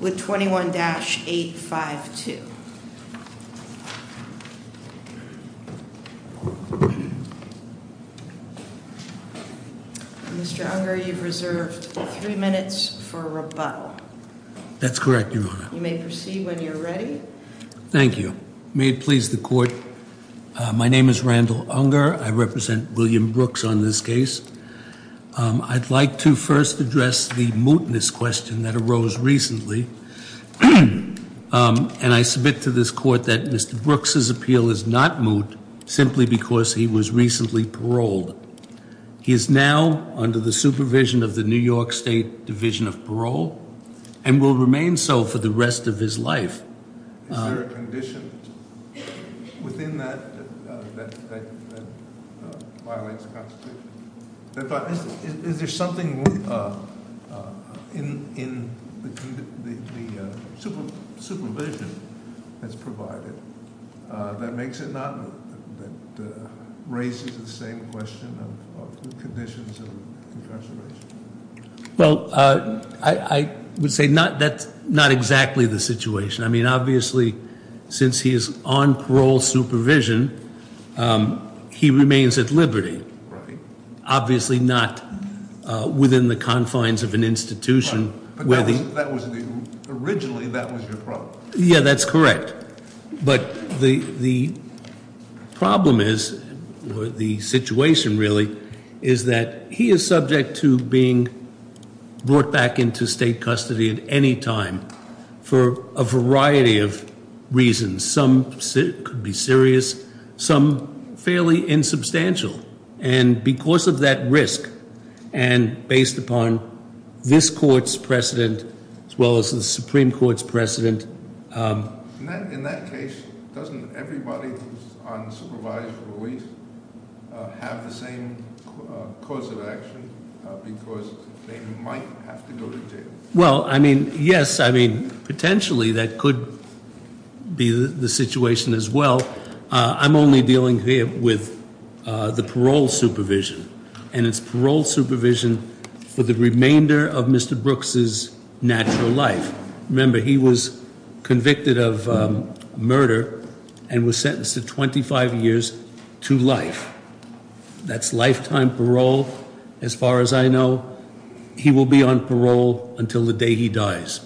with 21-852. Mr. Unger, you've reserved three minutes for rebuttal. That's correct, Your Honor. You may proceed when you're ready. Thank you. May it please the court. My name is Randall Unger. I represent William Brooks on this case. I'd like to first address the And I submit to this court that Mr. Brooks' appeal is not moot simply because he was recently paroled. He is now under the supervision of the New York State Division of Parole and will remain so for the rest of his life. Is there a condition within that that violates the Constitution? Is there something in the supervision that's provided that raises the same question of conditions of incarceration? Well, I would say that's not exactly the situation. I mean, obviously, since he is on parole supervision, he remains at liberty. Obviously not within the confines of an institution where the Originally, that was your problem. Yeah, that's correct. But the problem is, or the situation really, is that he is subject to being brought back into state custody at any time for a variety of reasons. Some could be serious, some fairly insubstantial. And because of that risk, and based upon this court's precedent, as well as the Supreme Court's precedent- In that case, doesn't everybody who's on supervised release have the same course of action? Because they might have to go to jail. Well, I mean, yes. I mean, potentially that could be the situation as well. I'm only dealing here with the parole supervision. And it's parole supervision for the remainder of Mr. Brooks' natural life. Remember, he was convicted of murder and was sentenced to 25 years to life. That's lifetime parole, as far as I know. He will be on parole until the day he dies.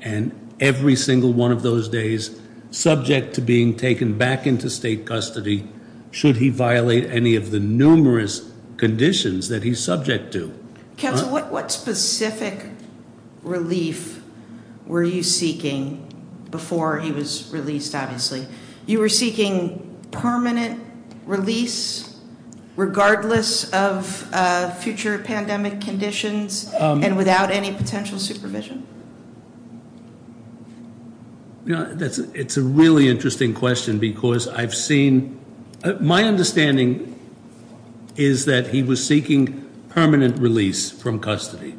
And every single one of those days, subject to being taken back into state custody, should he violate any of the numerous conditions that he's subject to. Counsel, what specific relief were you seeking before he was released, obviously? You were seeking permanent release, regardless of future pandemic conditions, and without any potential supervision? It's a really interesting question, because I've seen- My understanding is that he was seeking permanent release from custody.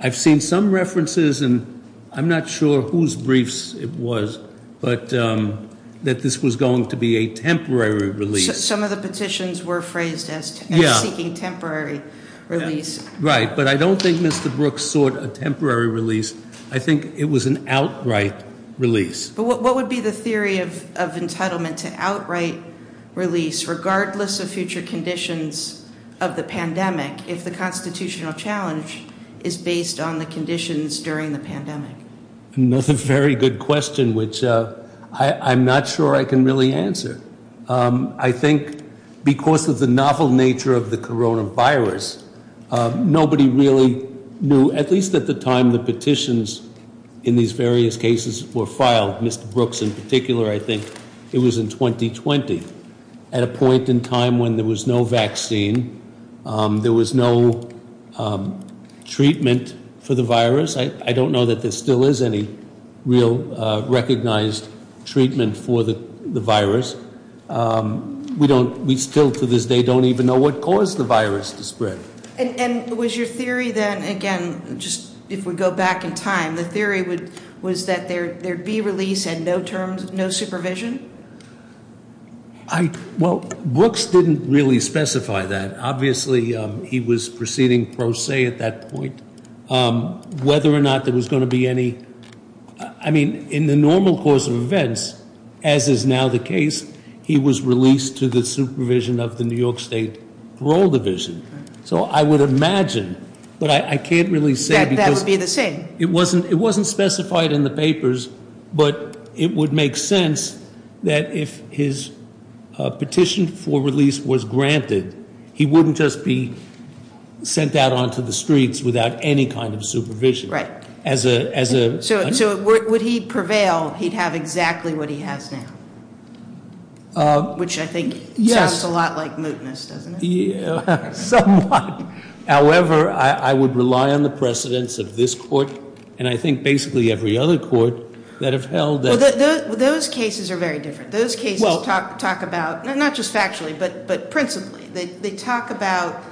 I've seen some references, and I'm not sure whose briefs it was, but that this was going to be a temporary release. Some of the petitions were phrased as seeking temporary release. Right, but I don't think Mr. Brooks sought a temporary release. I think it was an outright release. But what would be the theory of entitlement to outright release, regardless of future conditions of the pandemic, if the constitutional challenge is based on the conditions during the pandemic? Another very good question, which I'm not sure I can really answer. I think because of the novel nature of the coronavirus, nobody really knew, at least at the time the petitions in these various cases were filed, Mr. Brooks in particular, I think it was in 2020. At a point in time when there was no vaccine, there was no treatment for the virus. I don't know that there still is any real recognized treatment for the virus. We still, to this day, don't even know what caused the virus to spread. And was your theory then, again, just if we go back in time, the theory was that there'd be release and no supervision? Well, Brooks didn't really specify that. Obviously, he was proceeding pro se at that point. Whether or not there was going to be any, I mean, in the normal course of events, as is now the case, he was released to the supervision of the New York State Parole Division. So I would imagine, but I can't really say because- That would be the same. It wasn't specified in the papers, but it would make sense that if his petition for release was granted, he wouldn't just be sent out onto the streets without any kind of supervision. Right. As a- So would he prevail, he'd have exactly what he has now? Which I think sounds a lot like mootness, doesn't it? Somewhat. However, I would rely on the precedents of this court, and I think basically every other court that have held that- Those cases are very different. Those cases talk about, not just factually, but principally. They talk about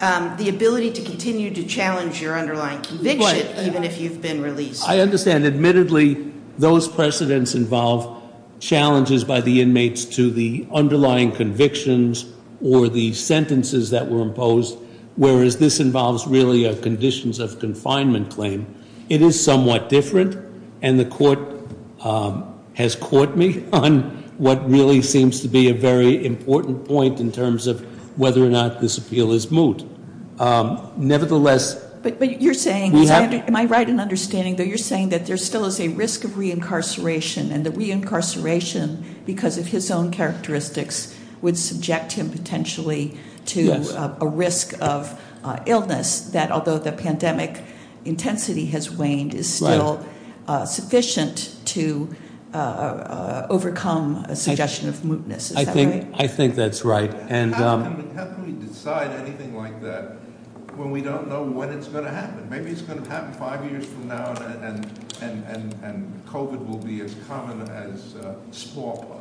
the ability to continue to challenge your underlying conviction, even if you've been released. I understand. Admittedly, those precedents involve challenges by the inmates to the underlying convictions or the sentences that were imposed, whereas this involves really a conditions of confinement claim. It is somewhat different, and the court has caught me on what really seems to be a very important point in terms of whether or not this appeal is moot. Nevertheless- But you're saying, am I right in understanding that you're saying that there still is a risk of reincarceration, and that reincarceration, because of his own characteristics, would subject him potentially to a risk of illness that, although the pandemic intensity has waned, is still sufficient to overcome a suggestion of mootness. Is that right? I think that's right. How can we decide anything like that when we don't know when it's going to happen? Maybe it's going to happen five years from now, and COVID will be as common as smallpox.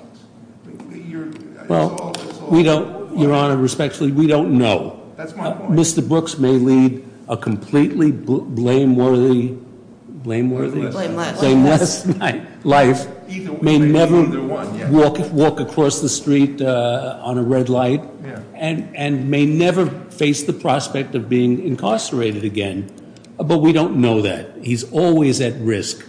Your Honor, respectfully, we don't know. That's my point. And Mr. Brooks may lead a completely blame-worthy, blame-worthy? Blame-less. Blame-less life, may never walk across the street on a red light, and may never face the prospect of being incarcerated again. But we don't know that. He's always at risk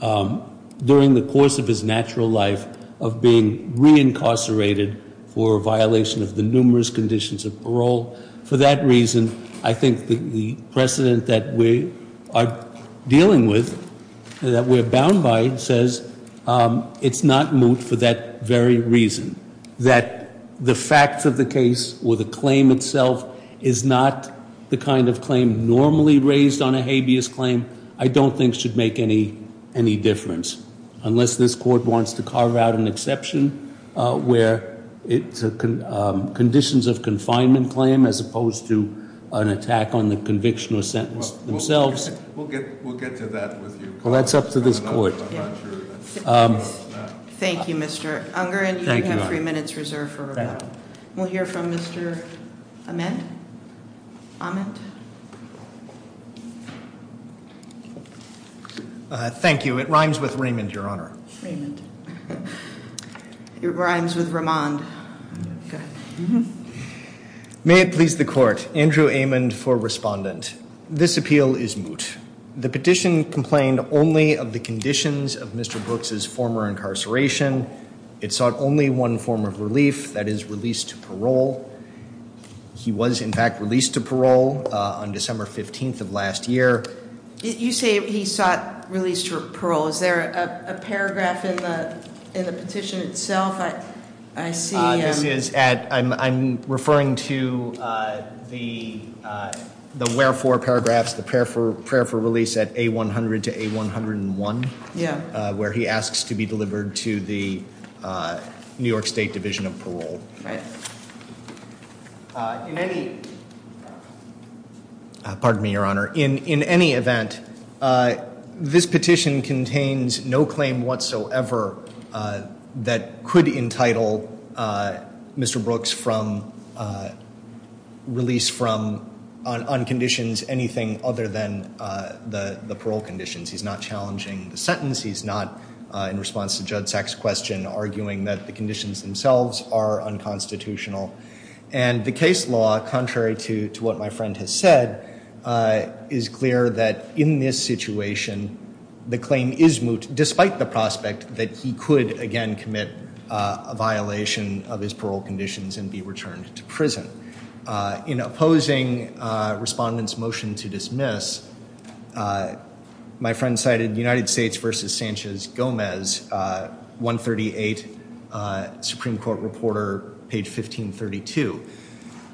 during the course of his natural life of being reincarcerated for a violation of the numerous conditions of parole. For that reason, I think the precedent that we are dealing with, that we're bound by, says it's not moot for that very reason. That the facts of the case, or the claim itself, is not the kind of claim normally raised on a habeas claim, I don't think should make any difference. Unless this court wants to carve out an exception where conditions of confinement claim, as opposed to an attack on the conviction or sentence themselves. We'll get to that with you. Well, that's up to this court. I'm not sure. Thank you, Mr. Unger. Thank you, Your Honor. And you have three minutes reserved for rebuttal. We'll hear from Mr. Ament. Ament. Thank you. It rhymes with Raymond, Your Honor. Raymond. It rhymes with Ramond. Go ahead. May it please the court. Andrew Ament for respondent. This appeal is moot. The petition complained only of the conditions of Mr. Brooks' former incarceration. It sought only one form of relief, that is release to parole. He was, in fact, released to parole on December 15th of last year. You say he sought release to parole. Is there a paragraph in the petition itself? I see. This is at, I'm referring to the wherefore paragraphs, the prayer for release at A-100 to A-101. Yeah. Where he asks to be delivered to the New York State Division of Parole. Right. In any, pardon me, Your Honor. In any event, this petition contains no claim whatsoever that could entitle Mr. Brooks from release from, on conditions anything other than the parole conditions. He's not challenging the sentence. He's not, in response to Judd Sachs' question, arguing that the conditions themselves are unconstitutional. And the case law, contrary to what my friend has said, is clear that in this situation the claim is moot, despite the prospect that he could, again, commit a violation of his parole conditions and be returned to prison. In opposing respondents' motion to dismiss, my friend cited United States versus Sanchez Gomez, 138 Supreme Court Reporter, page 1532.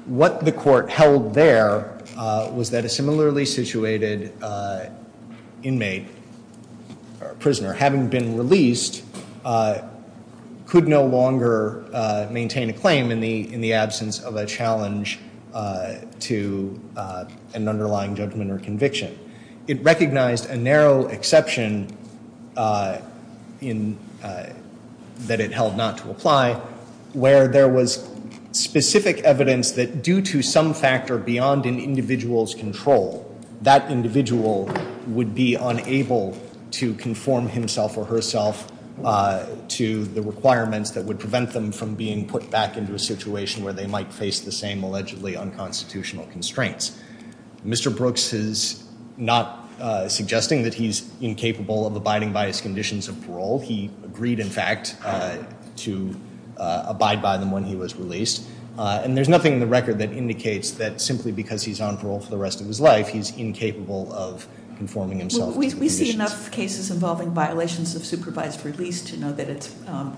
What the court held there was that a similarly situated inmate or prisoner, having been released, could no longer maintain a claim in the absence of a challenge to an underlying judgment or conviction. It recognized a narrow exception that it held not to apply, where there was specific evidence that due to some factor beyond an individual's control, that individual would be unable to conform himself or herself to the requirements that would prevent them from being put back into a situation where they might face the same allegedly unconstitutional constraints. Mr. Brooks is not suggesting that he's incapable of abiding by his conditions of parole. He agreed, in fact, to abide by them when he was released. And there's nothing in the record that indicates that simply because he's on parole for the rest of his life, he's incapable of conforming himself to the conditions. We see enough cases involving violations of supervised release to know that it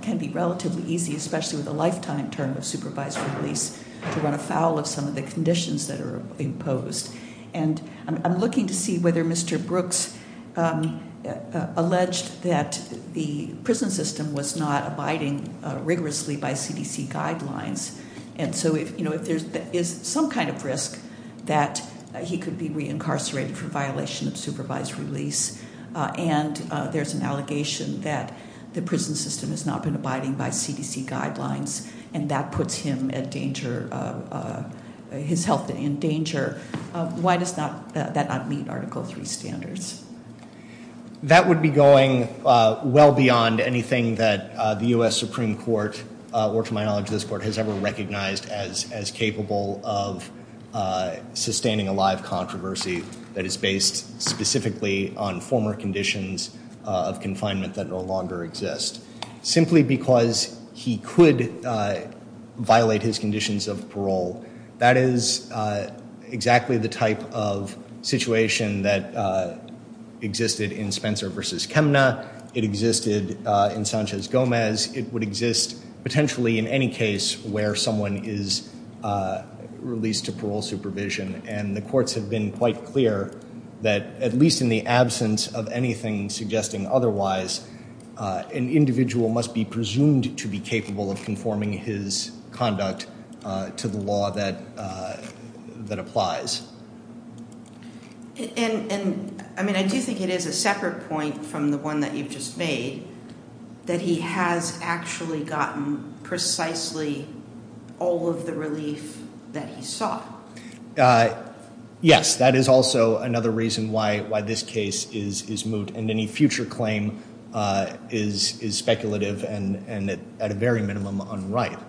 can be relatively easy, especially with a lifetime term of supervised release, to run afoul of some of the conditions that are imposed. And I'm looking to see whether Mr. Brooks alleged that the prison system was not abiding rigorously by CDC guidelines. And so if there is some kind of risk that he could be re-incarcerated for violation of supervised release, and there's an allegation that the prison system has not been abiding by CDC guidelines, and that puts his health in danger, why does that not meet Article III standards? That would be going well beyond anything that the U.S. Supreme Court, or to my knowledge this Court, has ever recognized as capable of sustaining a live controversy that is based specifically on former conditions of confinement that no longer exist. Simply because he could violate his conditions of parole, that is exactly the type of situation that existed in Spencer v. Chemna. It existed in Sanchez Gomez. It would exist potentially in any case where someone is released to parole supervision. And the courts have been quite clear that at least in the absence of anything suggesting otherwise, an individual must be presumed to be capable of conforming his conduct to the law that applies. And I mean, I do think it is a separate point from the one that you've just made, that he has actually gotten precisely all of the relief that he saw. Yes, that is also another reason why this case is moved. And any future claim is speculative and at a very minimum unright.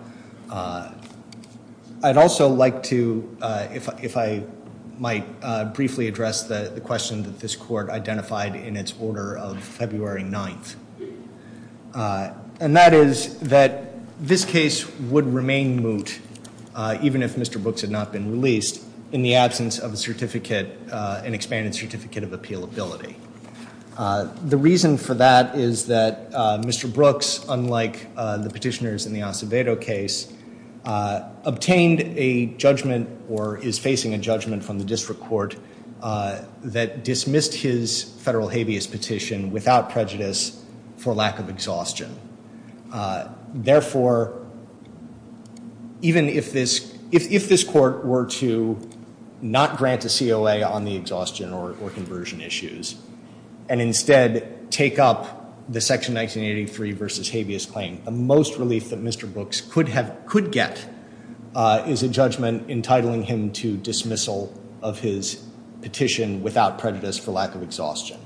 I'd also like to, if I might, briefly address the question that this Court identified in its order of February 9th. And that is that this case would remain moot, even if Mr. Brooks had not been released, in the absence of an expanded certificate of appealability. The reason for that is that Mr. Brooks, unlike the petitioners in the Acevedo case, obtained a judgment or is facing a judgment from the District Court that dismissed his federal habeas petition without prejudice for lack of exhaustion. Therefore, even if this Court were to not grant a COA on the exhaustion or conversion issues, and instead take up the Section 1983 v. habeas claim, the most relief that Mr. Brooks could get is a judgment entitling him to dismissal of his petition without prejudice for lack of exhaustion.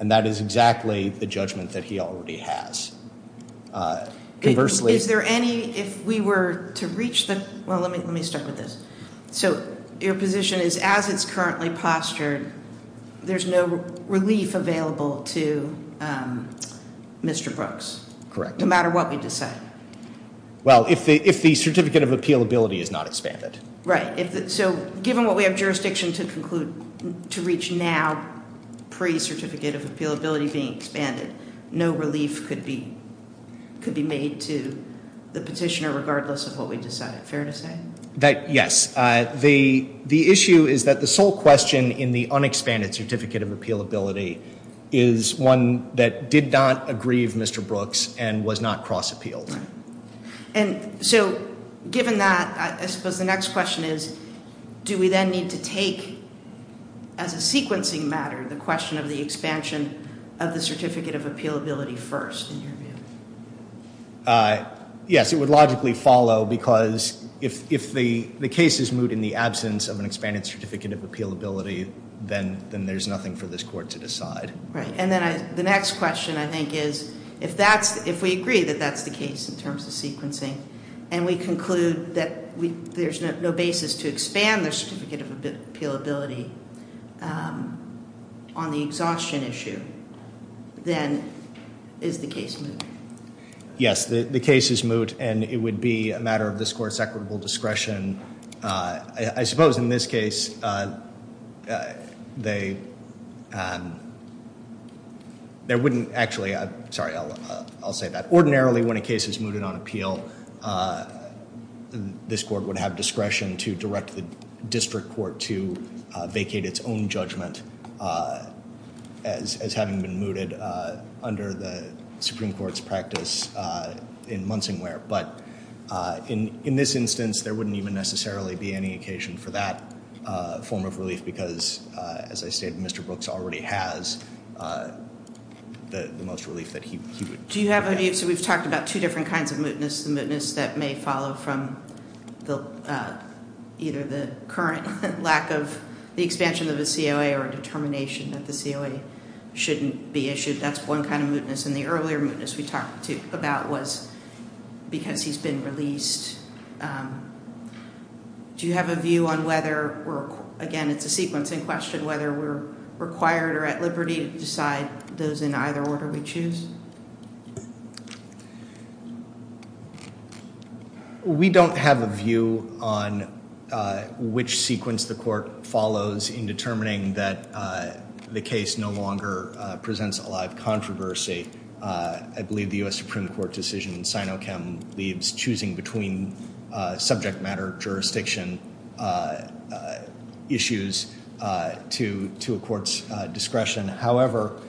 And that is exactly the judgment that he already has. Is there any, if we were to reach the, well, let me start with this. So your position is as it's currently postured, there's no relief available to Mr. Brooks? Correct. No matter what we decide? Well, if the certificate of appealability is not expanded. Right. So given what we have jurisdiction to conclude, to reach now, pre-certificate of appealability being expanded, no relief could be made to the petitioner regardless of what we decide. Fair to say? Yes. The issue is that the sole question in the unexpanded certificate of appealability is one that did not aggrieve Mr. Brooks and was not cross-appealed. And so given that, I suppose the next question is, do we then need to take as a sequencing matter the question of the expansion of the certificate of appealability first in your view? Yes, it would logically follow because if the case is moved in the absence of an expanded certificate of appealability, then there's nothing for this court to decide. Right. And then the next question I think is, if we agree that that's the case in terms of sequencing and we conclude that there's no basis to expand the certificate of appealability on the exhaustion issue, then is the case moot? Yes, the case is moot and it would be a matter of this court's equitable discretion. I suppose in this case, they wouldn't actually, sorry, I'll say that. Ordinarily when a case is mooted on appeal, this court would have discretion to direct the district court to vacate its own judgment as having been mooted under the Supreme Court's practice in Munsingware. But in this instance, there wouldn't even necessarily be any occasion for that form of relief because as I stated, Mr. Brooks already has the most relief that he would have. Do you have any, so we've talked about two different kinds of mootness, the mootness that may follow from either the current lack of the expansion of a COA or a determination that the COA shouldn't be issued. That's one kind of mootness. And the earlier mootness we talked about was because he's been released. Do you have a view on whether, again, it's a sequencing question, whether we're required or at liberty to decide those in either order we choose? We don't have a view on which sequence the court follows in determining that the case no longer presents a lot of controversy. I believe the U.S. Supreme Court decision in Sinochem leaves choosing between subject matter jurisdiction issues to a court's discretion. However,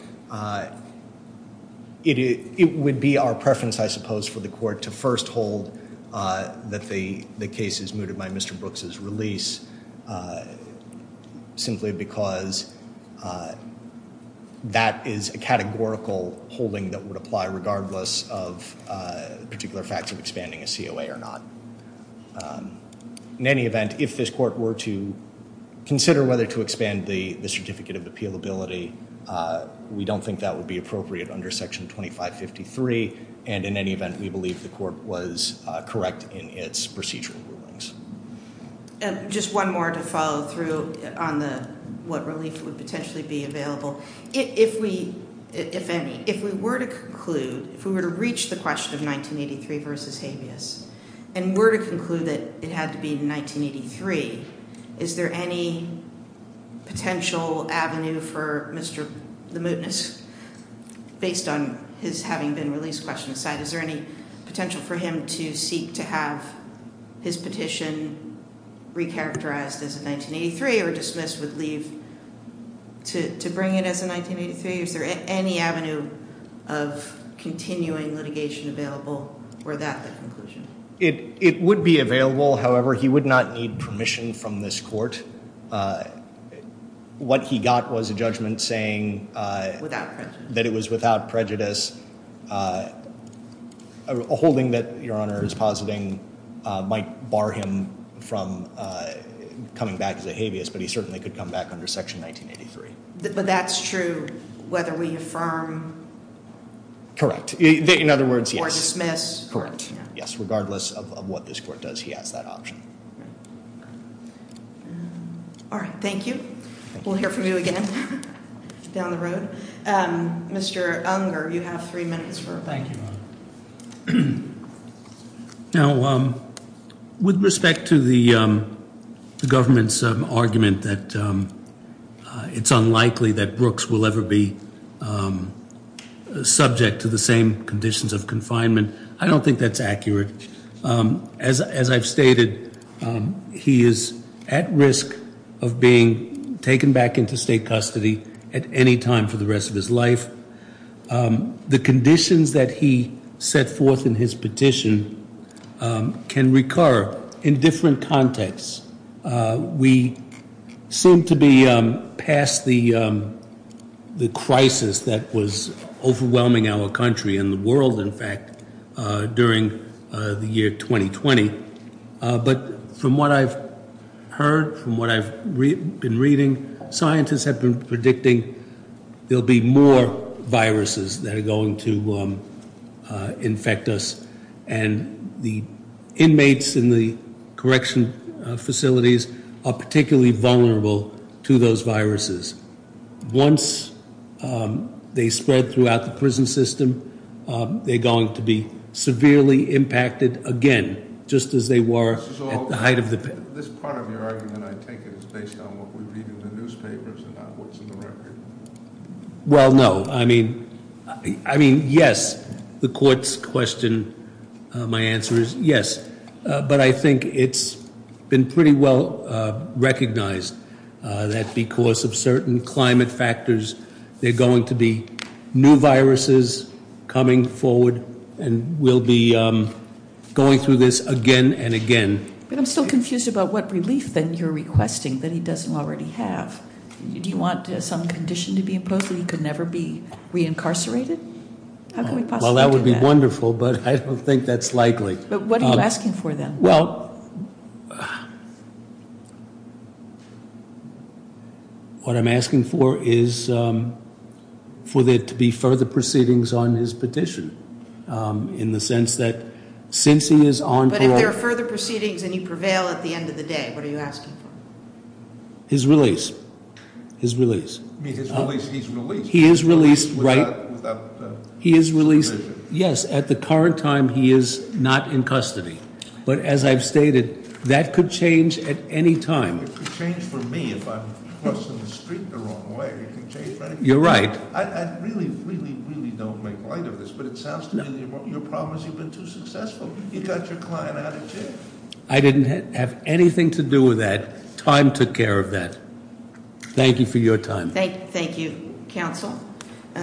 it would be our preference, I suppose, for the court to first hold that the case is mooted by Mr. Brooks' release simply because that is a categorical holding that would apply regardless of particular facts of expanding a COA or not. In any event, if this court were to consider whether to expand the certificate of appealability, we don't think that would be appropriate under Section 2553. And in any event, we believe the court was correct in its procedural rulings. Just one more to follow through on what relief would potentially be available. If we were to conclude, if we were to reach the question of 1983 v. habeas and were to conclude that it had to be in 1983, is there any potential avenue for Mr. Lemoutness, based on his having been released question aside, is there any potential for him to seek to have his petition recharacterized as a 1983 or dismissed with leave to bring it as a 1983? Is there any avenue of continuing litigation available for that conclusion? It would be available. However, he would not need permission from this court. What he got was a judgment saying that it was without prejudice, a holding that Your Honor is positing might bar him from coming back as a habeas, but he certainly could come back under Section 1983. But that's true whether we affirm? Correct. In other words, yes. Or dismiss? Correct. Yes, regardless of what this court does, he has that option. All right. Thank you. We'll hear from you again down the road. Mr. Unger, you have three minutes. Thank you, Your Honor. Now, with respect to the government's argument that it's unlikely that Brooks will ever be subject to the same conditions of confinement, I don't think that's accurate. As I've stated, he is at risk of being taken back into state custody at any time for the rest of his life. The conditions that he set forth in his petition can recur in different contexts. We seem to be past the crisis that was overwhelming our country and the world, in fact, during the year 2020. But from what I've heard, from what I've been reading, scientists have been predicting there'll be more viruses that are going to infect us. And the inmates in the correction facilities are particularly vulnerable to those viruses. Once they spread throughout the prison system, they're going to be severely impacted again, just as they were at the height of the- This part of your argument, I take it, is based on what we read in the newspapers and not what's in the record. Well, no. I mean, yes. The court's question, my answer is yes. But I think it's been pretty well recognized that because of certain climate factors, there are going to be new viruses coming forward, and we'll be going through this again and again. But I'm still confused about what relief, then, you're requesting that he doesn't already have. Do you want some condition to be imposed that he could never be reincarcerated? How can we possibly do that? Well, that would be wonderful, but I don't think that's likely. But what are you asking for, then? Well, what I'm asking for is for there to be further proceedings on his petition in the sense that since he is on- But if there are further proceedings and you prevail at the end of the day, what are you asking for? His release. His release. I mean, his release, he's released. He is released, right. Without- He is released. Yes, at the current time, he is not in custody. But as I've stated, that could change at any time. It could change for me if I'm crossing the street the wrong way. It could change for anybody. You're right. I really, really, really don't make light of this, but it sounds to me that your problem is you've been too successful. You got your client out of jail. I didn't have anything to do with that. Time took care of that. Thank you for your time. Thank you, counsel.